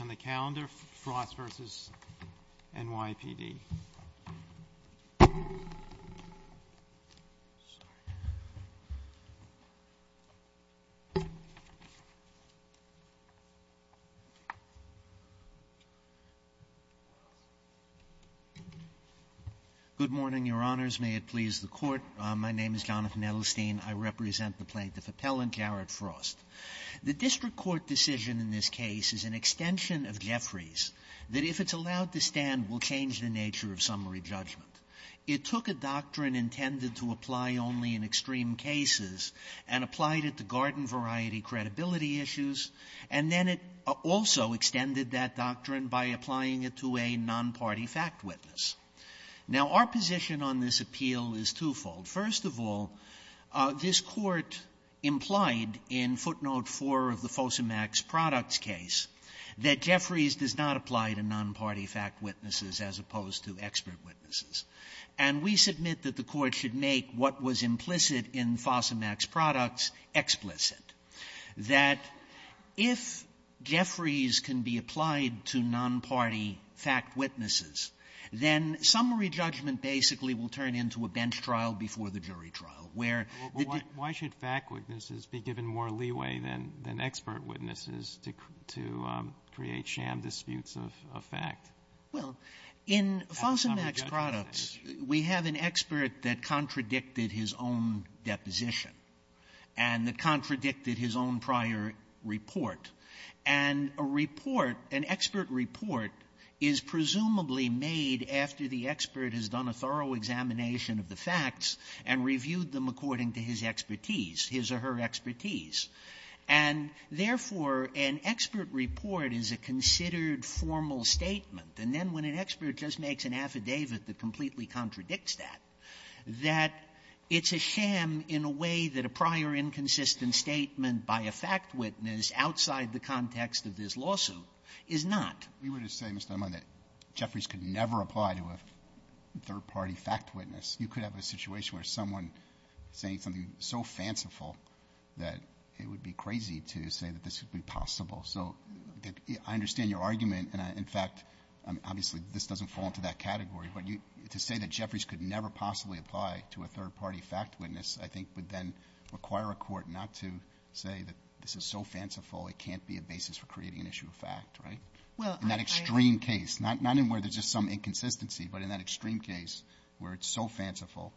on the calendar, Frost v. NYPD. Good morning, Your Honors. May it please the Court. My name is Jonathan Edelstein. I represent the plaintiff appellant, Garrett Frost. The district court decision in this case is an extension of Jeffrey's, that if it's allowed to stand, will change the nature of summary judgment. It took a doctrine intended to apply only in extreme cases and applied it to garden-variety credibility issues, and then it also extended that doctrine by applying it to a non-party fact witness. Now, our position on this appeal is twofold. First of all, this Court implied in footnote 4 of the FOSAMAX products case that Jeffrey's does not apply to non-party fact witnesses as opposed to expert witnesses. And we submit that the Court should make what was implicit in FOSAMAX products explicit, that if Jeffrey's can be applied to non-party fact witnesses, then summary judgment basically will turn into a bench trial before the jury trial, where the deb to create sham disputes of fact. Sotomayor, in FOSAMAX products, we have an expert that contradicted his own deposition and that contradicted his own prior report. And a report, an expert report, is presumably made after the expert has done a thorough examination of the facts and reviewed them according to his expertise, his or her And, therefore, an expert report is a considered formal statement. And then when an expert just makes an affidavit that completely contradicts that, that it's a sham in a way that a prior inconsistent statement by a fact witness outside the context of this lawsuit is not. Roberts, we would have said, Mr. Dunlap, that Jeffries could never apply to a third-party fact witness. You could have a situation where someone saying something so fanciful that it would be crazy to say that this would be possible. So I understand your argument. And, in fact, obviously, this doesn't fall into that category. But to say that Jeffries could never possibly apply to a third-party fact witness, I think, would then require a court not to say that this is so fanciful, it can't be a basis for creating an issue of fact, right? In that extreme case, not in where there's just some inconsistency, but in that extreme case where it's so fanciful,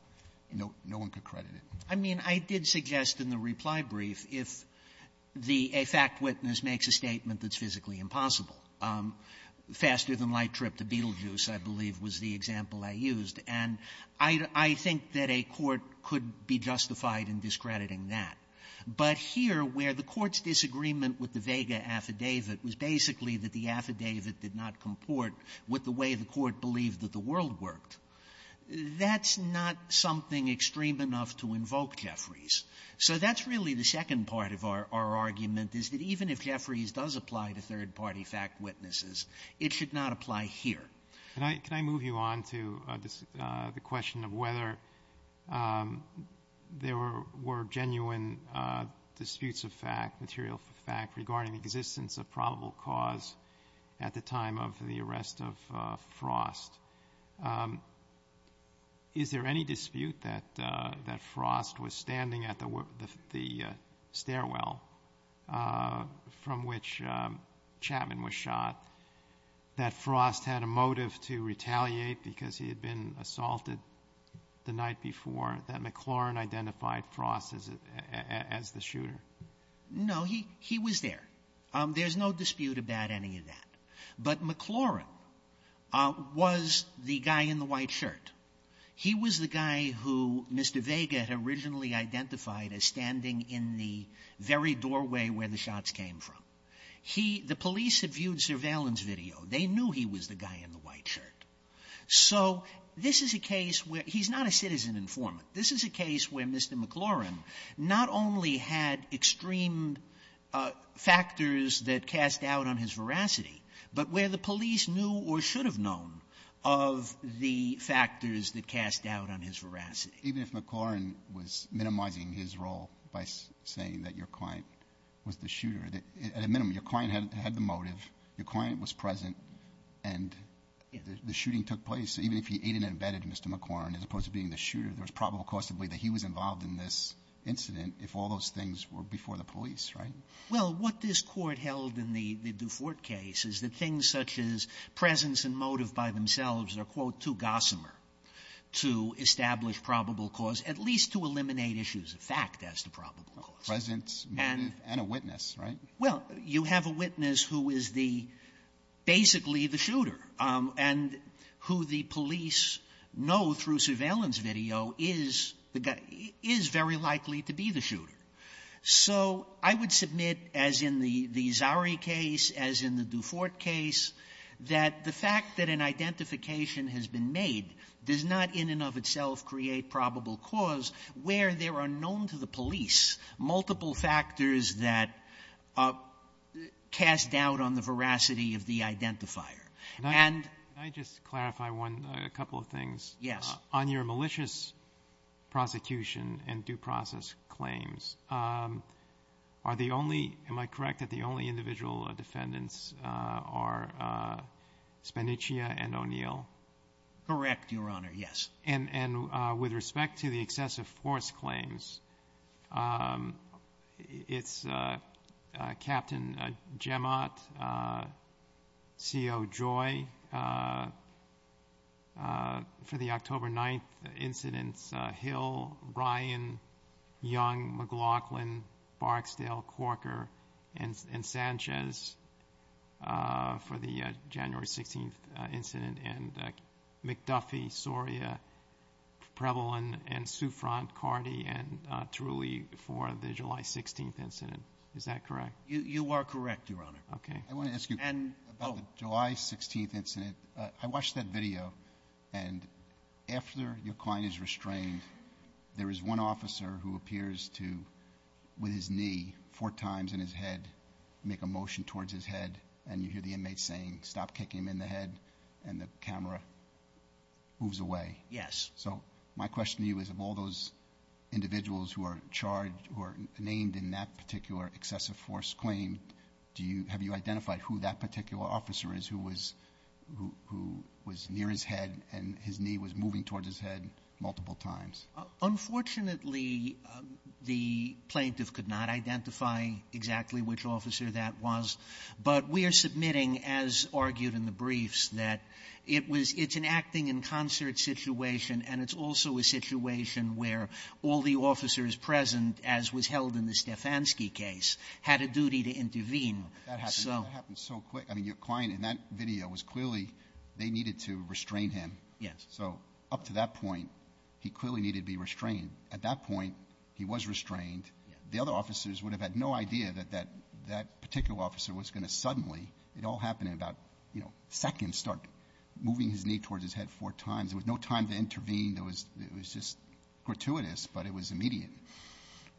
no one could credit it. I mean, I did suggest in the reply brief if the fact witness makes a statement that's physically impossible. Faster-than-light trip to Betelgeuse, I believe, was the example I used. And I think that a court could be justified in discrediting that. But here, where the Court's disagreement with the Vega affidavit was basically that the affidavit did not comport with the way the Court believed that the world worked, that's not something extreme enough to invoke Jeffries. So that's really the second part of our argument, is that even if Jeffries does apply to third-party fact witnesses, it should not apply here. Roberts. Can I move you on to the question of whether there were genuine disputes of fact, material fact, regarding the existence of probable cause at the time of the shooting? Is there any dispute that Frost was standing at the stairwell from which Chapman was shot, that Frost had a motive to retaliate because he had been assaulted the night before, that McLaurin identified Frost as the shooter? No, he was there. There's no dispute about any of that. But McLaurin was the guy in the white shirt. He was the guy who Mr. Vega had originally identified as standing in the very doorway where the shots came from. The police had viewed surveillance video. They knew he was the guy in the white shirt. So this is a case where he's not a citizen informant. This is a case where Mr. McLaurin not only had extreme factors that cast doubt on his veracity, but where the police knew or should have known of the factors that cast doubt on his veracity. Even if McLaurin was minimizing his role by saying that your client was the shooter, at a minimum, your client had the motive, your client was present, and the shooting took place, even if he aid and abetted Mr. McLaurin, as opposed to being the shooter, there was probable cause to believe that he was involved in this incident if all those things were before the police, right? Sotomayor Well, what this Court held in the Dufourt case is that things such as presence and motive by themselves are, quote, too gossamer to establish probable cause, at least to eliminate issues of fact as to probable cause. Alito Presence, motive, and a witness, right? Sotomayor Well, you have a witness who is the — basically the shooter, and who the police know through surveillance video is the guy — is very likely to be the shooter. So I would submit, as in the Zari case, as in the Dufourt case, that the fact that an identification has been made does not in and of itself create probable cause where there are known to the police multiple factors that cast doubt on the veracity of the identifier. And — Roberts Can I just clarify one — a couple of things? Sotomayor Yes. Roberts Can I just clarify one — a couple of things? On your malicious prosecution and due process claims, are the only — am I correct that the only individual defendants are Spanichia and O'Neill? Sotomayor Correct, Your Honor, yes. Roberts Can And with respect to the excessive force claims, it's Captain Jemot, C.O. Joy, for the October 9th incidents, Hill, Ryan, Young, McLaughlin, Barksdale, Corker, and Sanchez for the January 16th incident, and McDuffie, Soria, Preble, and Souffrant, Cardi, and Trulli for the July 16th incident. Is that correct? Sotomayor You are correct, Your Honor. Roberts Okay. I want to ask you — Sotomayor And — oh. Roberts About the July 16th incident, I watched that video, and after your client is restrained, there is one officer who appears to, with his knee four times in his head, make a motion towards his head, and you hear the inmate saying, stop kicking him in the head, and the camera moves away. Sotomayor Yes. Roberts So my question to you is, of all those individuals who are charged — who are named in that particular excessive force claim, do you — have you identified who that particular officer is who was — who was near his head, and his knee was moving towards his head multiple times? Sotomayor Unfortunately, the plaintiff could not identify exactly which officer that was. But we are submitting, as argued in the briefs, that it was — it's an acting-in-concert situation, and it's also a situation where all the officers present, as was held in the I mean, your client, in that video, was clearly — they needed to restrain him. Sotomayor So up to that point, he clearly needed to be restrained. At that point, he was restrained. The other officers would have had no idea that that particular officer was going to suddenly — it all happened in about, you know, seconds — start moving his knee towards his head four times. There was no time to intervene. There was — it was just gratuitous, but it was immediate.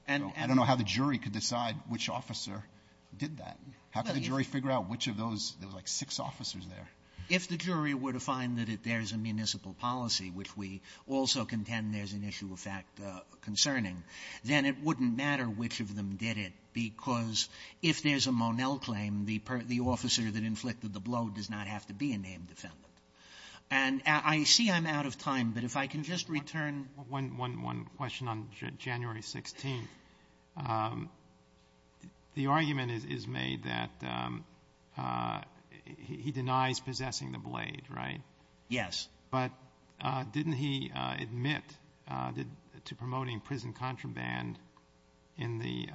And I don't know how the jury could decide which officer did that. How could the jury figure out which of those — there was, like, six officers there. Sotomayor If the jury were to find that there's a municipal policy, which we also contend there's an issue of fact concerning, then it wouldn't matter which of them did it, because if there's a Monell claim, the officer that inflicted the blow does not have to be a named defendant. And I see I'm out of time, but if I can just return — The argument is made that he denies possessing the blade, right? Yes. But didn't he admit to promoting prison contraband in the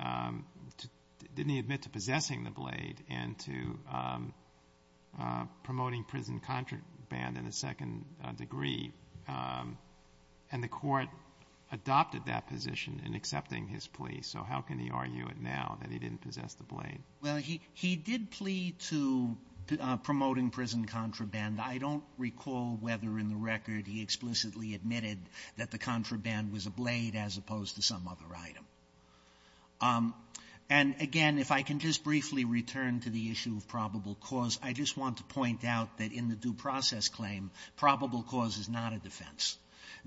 — didn't he admit to possessing the blade and to promoting prison contraband in a second degree? And the Court adopted that position in accepting his plea. So how can he argue it now that he didn't possess the blade? Well, he — he did plead to promoting prison contraband. I don't recall whether in the record he explicitly admitted that the contraband was a blade as opposed to some other item. And, again, if I can just briefly return to the issue of probable cause, I just want to point out that in the due process claim, probable cause is not a defense.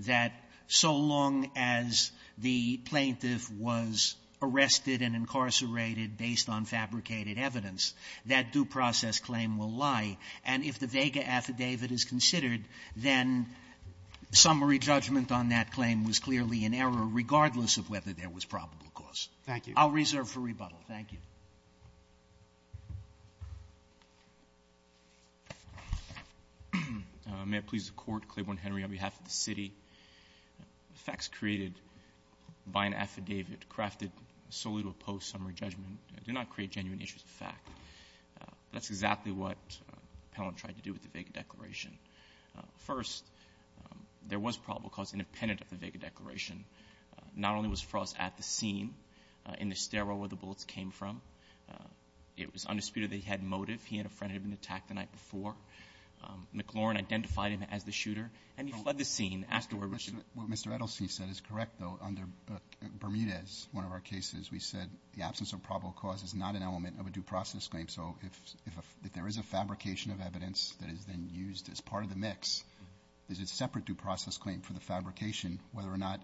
That so long as the plaintiff was arrested and incarcerated based on fabricated evidence, that due process claim will lie. And if the Vega affidavit is considered, then summary judgment on that claim was clearly in error, regardless of whether there was probable cause. Thank you. I'll reserve for rebuttal. Thank you. May it please the Court, Claiborne Henry, on behalf of the city. The facts created by an affidavit crafted solely to oppose summary judgment do not create genuine issues of fact. That's exactly what the panel tried to do with the Vega declaration. First, there was probable cause independent of the Vega declaration. Not only was Frost at the scene, in the stairwell where the bullets came from, it was the scene where he and a friend had been attacked the night before, McLaurin identified him as the shooter, and he fled the scene afterward. What Mr. Edelstein said is correct, though, under Bermudez, one of our cases, we said the absence of probable cause is not an element of a due process claim. So if there is a fabrication of evidence that is then used as part of the mix, there's a separate due process claim for the fabrication, whether or not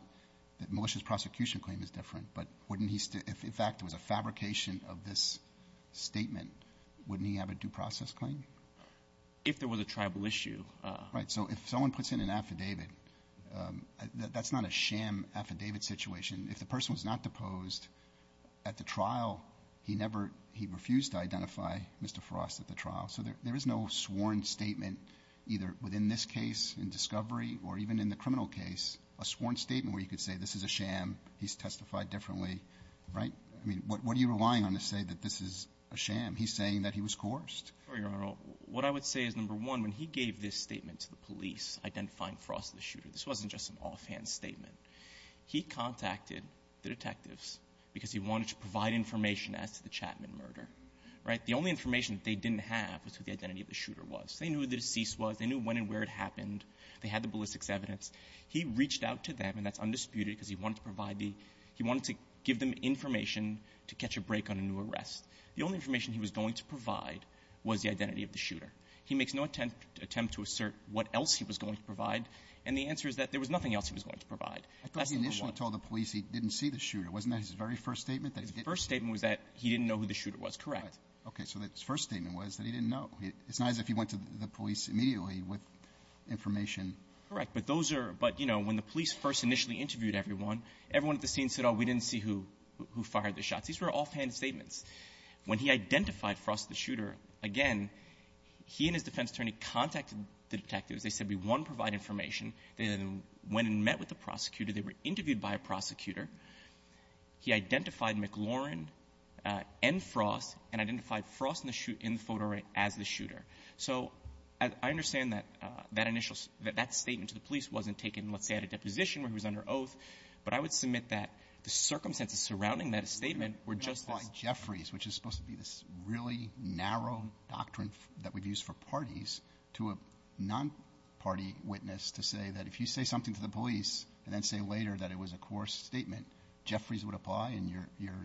the malicious prosecution claim is different, but wouldn't he, if in fact it was a fabrication of this statement, wouldn't he have a due process claim? If there was a tribal issue. Right. So if someone puts in an affidavit, that's not a sham affidavit situation. If the person was not deposed at the trial, he never, he refused to identify Mr. Frost at the trial. So there is no sworn statement either within this case in discovery or even in the he's testified differently, right? I mean, what are you relying on to say that this is a sham? He's saying that he was coerced. Sorry, Your Honor. What I would say is, number one, when he gave this statement to the police identifying Frost as the shooter, this wasn't just an offhand statement. He contacted the detectives because he wanted to provide information as to the Chapman murder, right? The only information that they didn't have was who the identity of the shooter was. They knew who the deceased was. They knew when and where it happened. They had the ballistics evidence. He reached out to them, and that's undisputed because he wanted to provide the he wanted to give them information to catch a break on a new arrest. The only information he was going to provide was the identity of the shooter. He makes no attempt to assert what else he was going to provide, and the answer is that there was nothing else he was going to provide. That's number one. I thought he initially told the police he didn't see the shooter. Wasn't that his very first statement? His first statement was that he didn't know who the shooter was. Correct. Okay. So his first statement was that he didn't know. It's not as if he went to the police immediately with information. Correct. But those are — but, you know, when the police first initially interviewed everyone, everyone at the scene said, oh, we didn't see who fired the shots. These were offhand statements. When he identified Frost as the shooter, again, he and his defense attorney contacted the detectives. They said, we want to provide information. They then went and met with the prosecutor. They were interviewed by a prosecutor. He identified McLaurin and Frost and identified Frost in the photo as the shooter. So I understand that that initial — that that statement to the police wasn't taken, let's say, at a deposition where he was under oath. But I would submit that the circumstances surrounding that statement were just as — If you apply Jeffries, which is supposed to be this really narrow doctrine that we've used for parties, to a non-party witness to say that if you say something to the police and then say later that it was a coerced statement, Jeffries would apply and you're,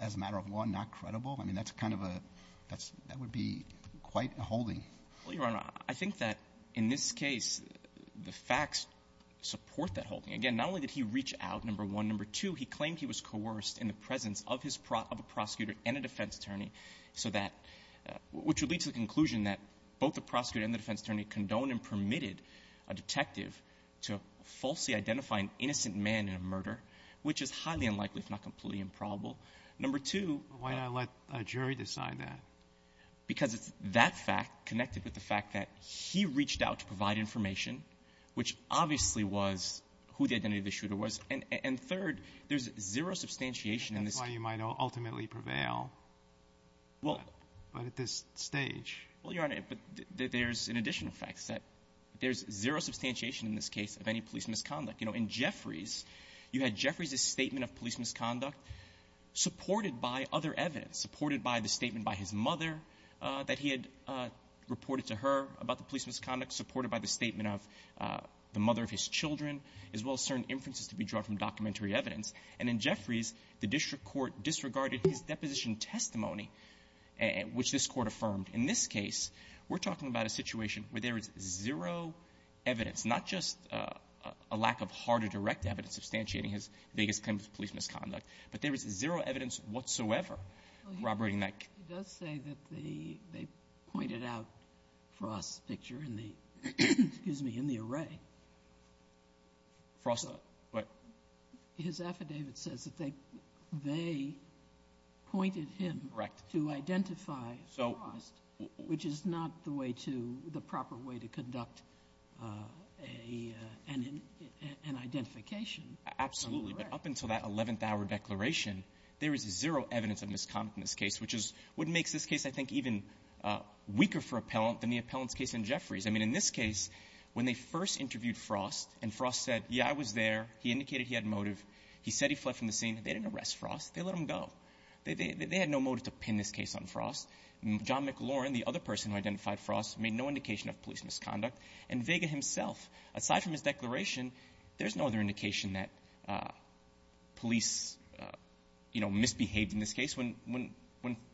as a matter of law, not credible? I mean, that's kind of a — that would be quite a holding. Well, Your Honor, I think that in this case, the facts support that holding. Again, not only did he reach out, number one. Number two, he claimed he was coerced in the presence of a prosecutor and a defense attorney so that — which would lead to the conclusion that both the prosecutor and the defense attorney condoned and permitted a detective to falsely identify an innocent man in a murder, which is highly unlikely, if not completely improbable. Number two — Why not let a jury decide that? Because it's that fact connected with the fact that he reached out to provide information, which obviously was who the identity of the shooter was. And third, there's zero substantiation in this — That's why you might ultimately prevail. Well — But at this stage. Well, Your Honor, there's an additional fact set. There's zero substantiation in this case of any police misconduct. You know, in Jeffries, you had Jeffries' statement of police misconduct. Supported by other evidence, supported by the statement by his mother that he had reported to her about the police misconduct, supported by the statement of the mother of his children, as well as certain inferences to be drawn from documentary evidence. And in Jeffries, the district court disregarded his deposition testimony, which this Court affirmed. In this case, we're talking about a situation where there is zero evidence, not just a lack of hard or direct evidence substantiating his biggest claim of police misconduct, but there is zero evidence whatsoever corroborating that — Well, he does say that they pointed out Frost's picture in the — excuse me, in the array. Frost, what? His affidavit says that they pointed him to identify Frost, which is not the way to — the proper way to conduct an identification. Absolutely. But up until that 11th-hour declaration, there is zero evidence of misconduct in this case, which is what makes this case, I think, even weaker for appellant than the appellant's case in Jeffries. I mean, in this case, when they first interviewed Frost and Frost said, yeah, I was there, he indicated he had motive, he said he fled from the scene, they didn't arrest Frost. They let him go. They had no motive to pin this case on Frost. John McLaurin, the other person who identified Frost, made no indication of police misconduct. And Vega himself, aside from his declaration, there's no other indication that police, you know, misbehaved in this case. When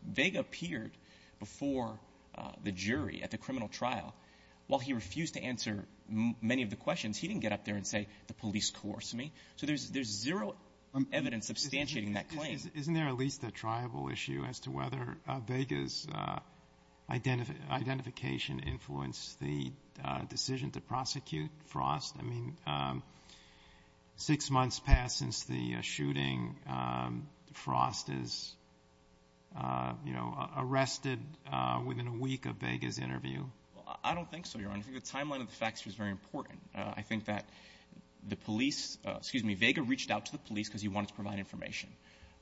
Vega appeared before the jury at the criminal trial, while he refused to answer many of the questions, he didn't get up there and say, the police coerced me. So there's zero evidence substantiating that claim. Isn't there at least a triable issue as to whether Vega's identification influenced the decision to prosecute Frost? I mean, six months passed since the shooting. Frost is, you know, arrested within a week of Vega's interview. Well, I don't think so, Your Honor. I think the timeline of the facts was very important. I think that the police, excuse me, Vega reached out to the police because he wanted to provide information.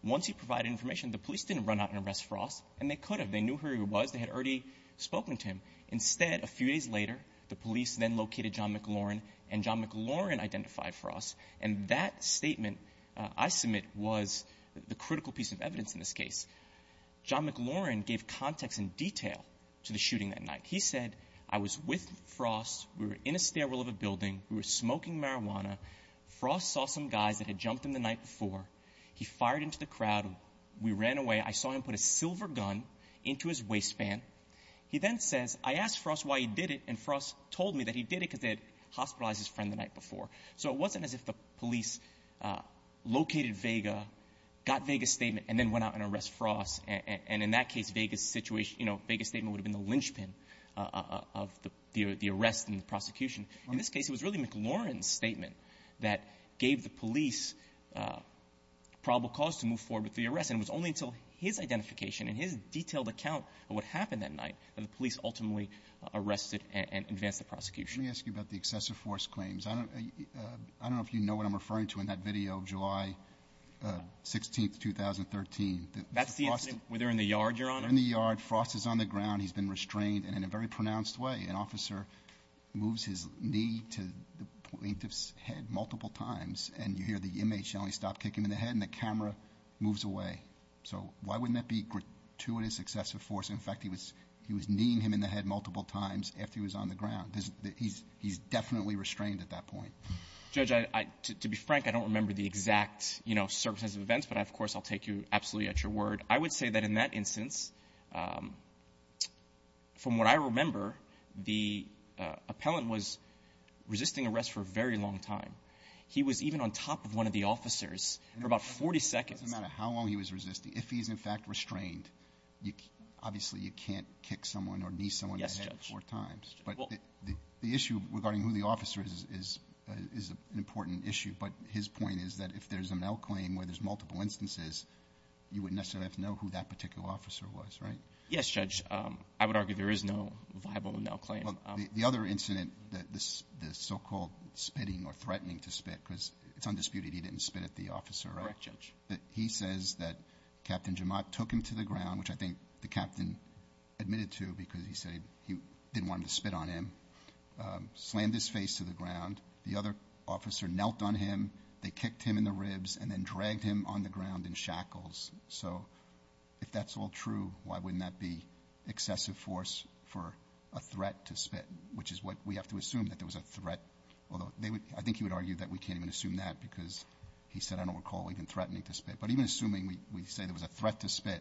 Once he provided information, the police didn't run out and arrest Frost, and they could have. They knew who he was. They had already spoken to him. Instead, a few days later, the police then located John McLaurin, and John McLaurin identified Frost, and that statement I submit was the critical piece of evidence in this case. John McLaurin gave context and detail to the shooting that night. He said, I was with Frost. We were in a stairwell of a building. We were smoking marijuana. Frost saw some guys that had jumped him the night before. He fired into the crowd. We ran away. I saw him put a silver gun into his waistband. He then says, I asked Frost why he did it, and Frost told me that he did it because they had hospitalized his friend the night before. So it wasn't as if the police located Vega, got Vega's statement, and then went out and arrested Frost, and in that case, Vega's statement would have been the linchpin of the arrest and the prosecution. In this case, it was really McLaurin's statement that gave the police probable cause to move forward with the arrest, and it was only until his statement that night that the police ultimately arrested and advanced the prosecution. Let me ask you about the excessive force claims. I don't know if you know what I'm referring to in that video of July 16, 2013. That's the incident where they're in the yard, Your Honor. They're in the yard. Frost is on the ground. He's been restrained, and in a very pronounced way, an officer moves his knee to the plaintiff's head multiple times, and you hear the inmate shouting, stop kicking him in the head, and the camera moves away. So why wouldn't that be gratuitous excessive force? In fact, he was kneeing him in the head multiple times after he was on the ground. He's definitely restrained at that point. Judge, to be frank, I don't remember the exact circumstances of events, but, of course, I'll take you absolutely at your word. I would say that in that instance, from what I remember, the appellant was resisting arrest for a very long time. He was even on top of one of the officers for about 40 seconds. It doesn't matter how long he was resisting. If he's, in fact, restrained, obviously, you can't kick someone or knee someone in the head four times. But the issue regarding who the officer is an important issue, but his point is that if there's a malclaim where there's multiple instances, you wouldn't necessarily have to know who that particular officer was, right? Yes, Judge. I would argue there is no viable malclaim. The other incident, the so-called spitting or threatening to spit, because it's undisputed he didn't spit at the officer, right? Correct, Judge. He says that Captain Jemot took him to the ground, which I think the captain admitted to because he said he didn't want him to spit on him, slammed his face to the ground. The other officer knelt on him. They kicked him in the ribs and then dragged him on the ground in shackles. So if that's all true, why wouldn't that be excessive force for a threat to spit, which is what we have to assume that there was a threat, although I think he would argue that we can't even assume that because he said, I don't recall even threatening to spit. But even assuming we say there was a threat to spit,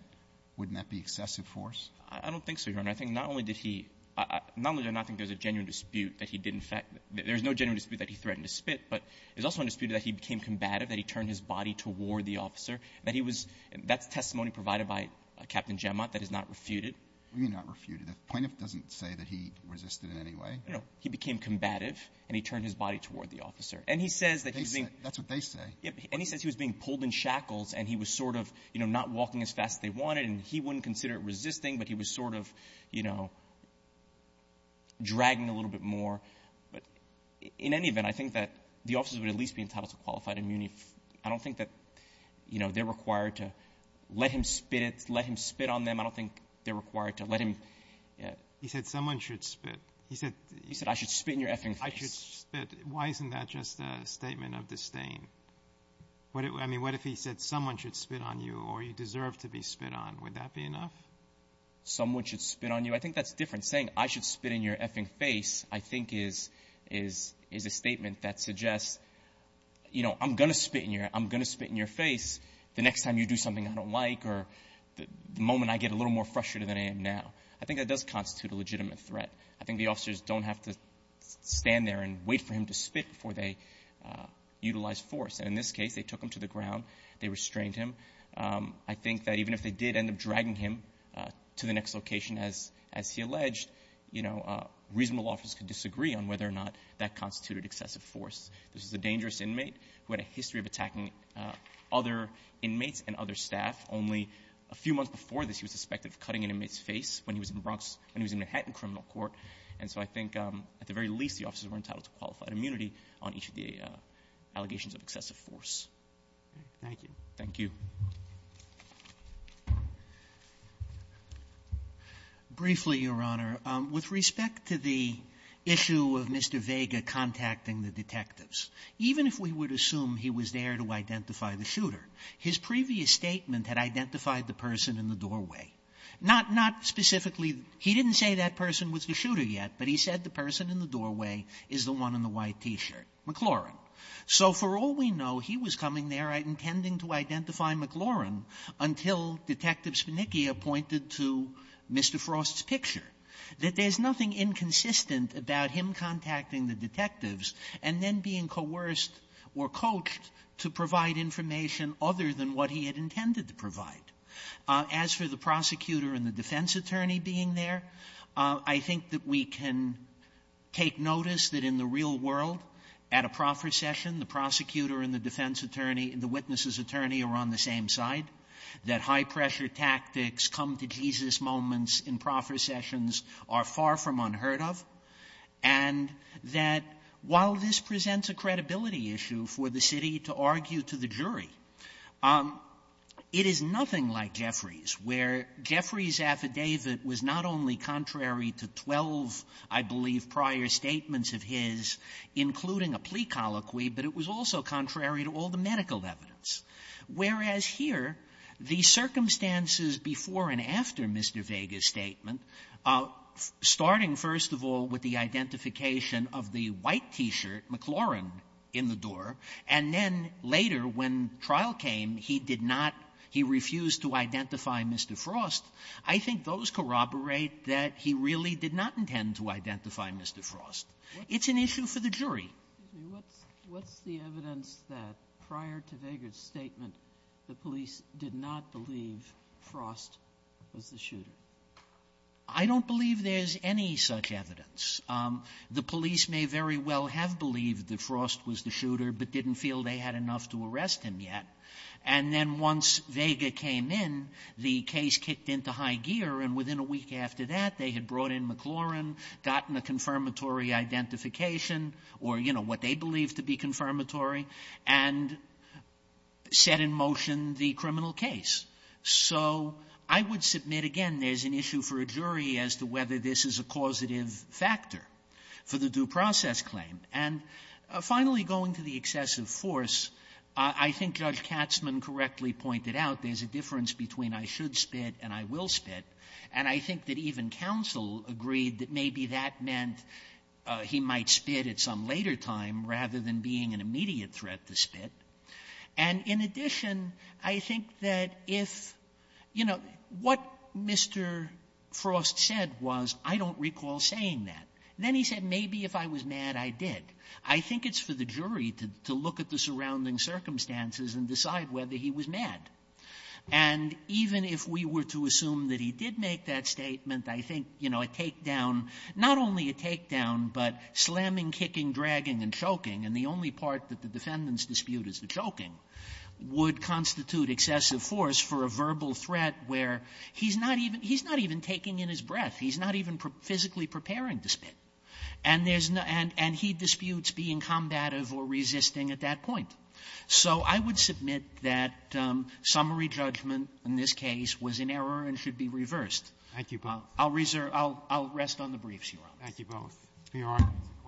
wouldn't that be excessive force? I don't think so, Your Honor. I think not only did he – not only do I not think there's a genuine dispute that he didn't – there's no genuine dispute that he threatened to spit, but it's also undisputed that he became combative, that he turned his body toward the officer, that he was – that's testimony provided by Captain Jemot that is not refuted. What do you mean not refuted? The plaintiff doesn't say that he resisted in any way. No, he became combative, and he turned his body toward the officer. And he says that he's being – That's what they say. And he says he was being pulled in shackles, and he was sort of not walking as fast as they wanted, and he wouldn't consider it resisting, but he was sort of dragging a little bit more. But in any event, I think that the officers would at least be entitled to qualified immunity. I don't think that they're required to let him spit, let him spit on them. I don't think they're required to let him – He said someone should spit. He said – He said I should spit in your effing face. I should spit. Why isn't that just a statement of disdain? I mean, what if he said someone should spit on you, or you deserve to be spit on? Would that be enough? Someone should spit on you. I think that's different. Saying I should spit in your effing face, I think, is a statement that suggests, you know, I'm going to spit in your – I'm going to spit in your face the next time you do something I don't like, or the moment I get a little more frustrated than I am now. I think that does constitute a legitimate threat. I think the officers don't have to stand there and wait for him to spit before they utilize force. And in this case, they took him to the ground. They restrained him. I think that even if they did end up dragging him to the next location, as he alleged, you know, a reasonable office could disagree on whether or not that constituted excessive force. This is a dangerous inmate who had a history of attacking other inmates and other staff. Only a few months before this, he was suspected of cutting an inmate's face when he was in Manhattan criminal court. And so I think at the very least, the officers were entitled to qualified immunity on each of the allegations of excessive force. Thank you. Thank you. Briefly, Your Honor, with respect to the issue of Mr. Vega contacting the detectives, even if we would assume he was there to identify the shooter, his previous statement had identified the person in the doorway. Not specifically he didn't say that person was the shooter yet, but he said the person in the doorway is the one in the white T-shirt, McLaurin. So for all we know, he was coming there and intending to identify McLaurin until Detective Spannicchia pointed to Mr. Frost's picture. That there's nothing inconsistent about him contacting the detectives and then being coerced or coached to provide information other than what he had intended to provide. As for the prosecutor and the defense attorney being there, I think that we can take notice that in the real world, at a proffer session, the prosecutor and the defense attorney and the witness's attorney are on the same side, that high-pressure tactics come-to-Jesus moments in proffer sessions are far from unheard of, and that while this presents a credibility issue for the city to argue to the jury, it is nothing like Jeffrey's, where Jeffrey's affidavit was not only contrary to 12, I believe, prior statements of his, including a plea colloquy, but it was also contrary to all the medical evidence. Whereas here, the circumstances before and after Mr. Vega's statement, starting, first of all, with the identification of the white T-shirt, McLaurin, in the door, and then later, when trial came, he did not, he refused to identify Mr. Frost, I think those corroborate that he really did not intend to identify Mr. Frost. It's an issue for the jury. What's the evidence that prior to Vega's statement, the police did not believe Frost was the shooter? I don't believe there's any such evidence. The police may very well have believed that Frost was the shooter but didn't feel they had enough to arrest him yet. And then once Vega came in, the case kicked into high gear, and within a week after that, they had brought in McLaurin, gotten a confirmatory identification, or, you know, what they believed to be confirmatory, and set in motion the criminal case. So, I would submit, again, there's an issue for a jury as to whether this is a causative factor for the due process claim. And finally, going to the excessive force, I think Judge Katzman correctly pointed out there's a difference between I should spit and I will spit, and I think that even counsel agreed that maybe that meant he might spit at some later time, rather than being an immediate threat to spit. And, in addition, I think that if you know, what Mr. Frost said was I don't recall saying that. Then he said maybe if I was mad, I did. I think it's for the jury to look at the surrounding circumstances and decide whether he was mad. And even if we were to assume that he did make that statement, I think, you know, a takedown not only a takedown, but slamming, kicking, dragging, and choking, and the only part that the defendants dispute is the choking, would constitute excessive force for a verbal threat where he's not even taking in his breath. He's not even physically preparing to spit. And he disputes being combative or resisting at that point. So I would submit that summary judgment in this case was in error and should be reversed. I'll rest on the briefs, Your Honor. Thank you both.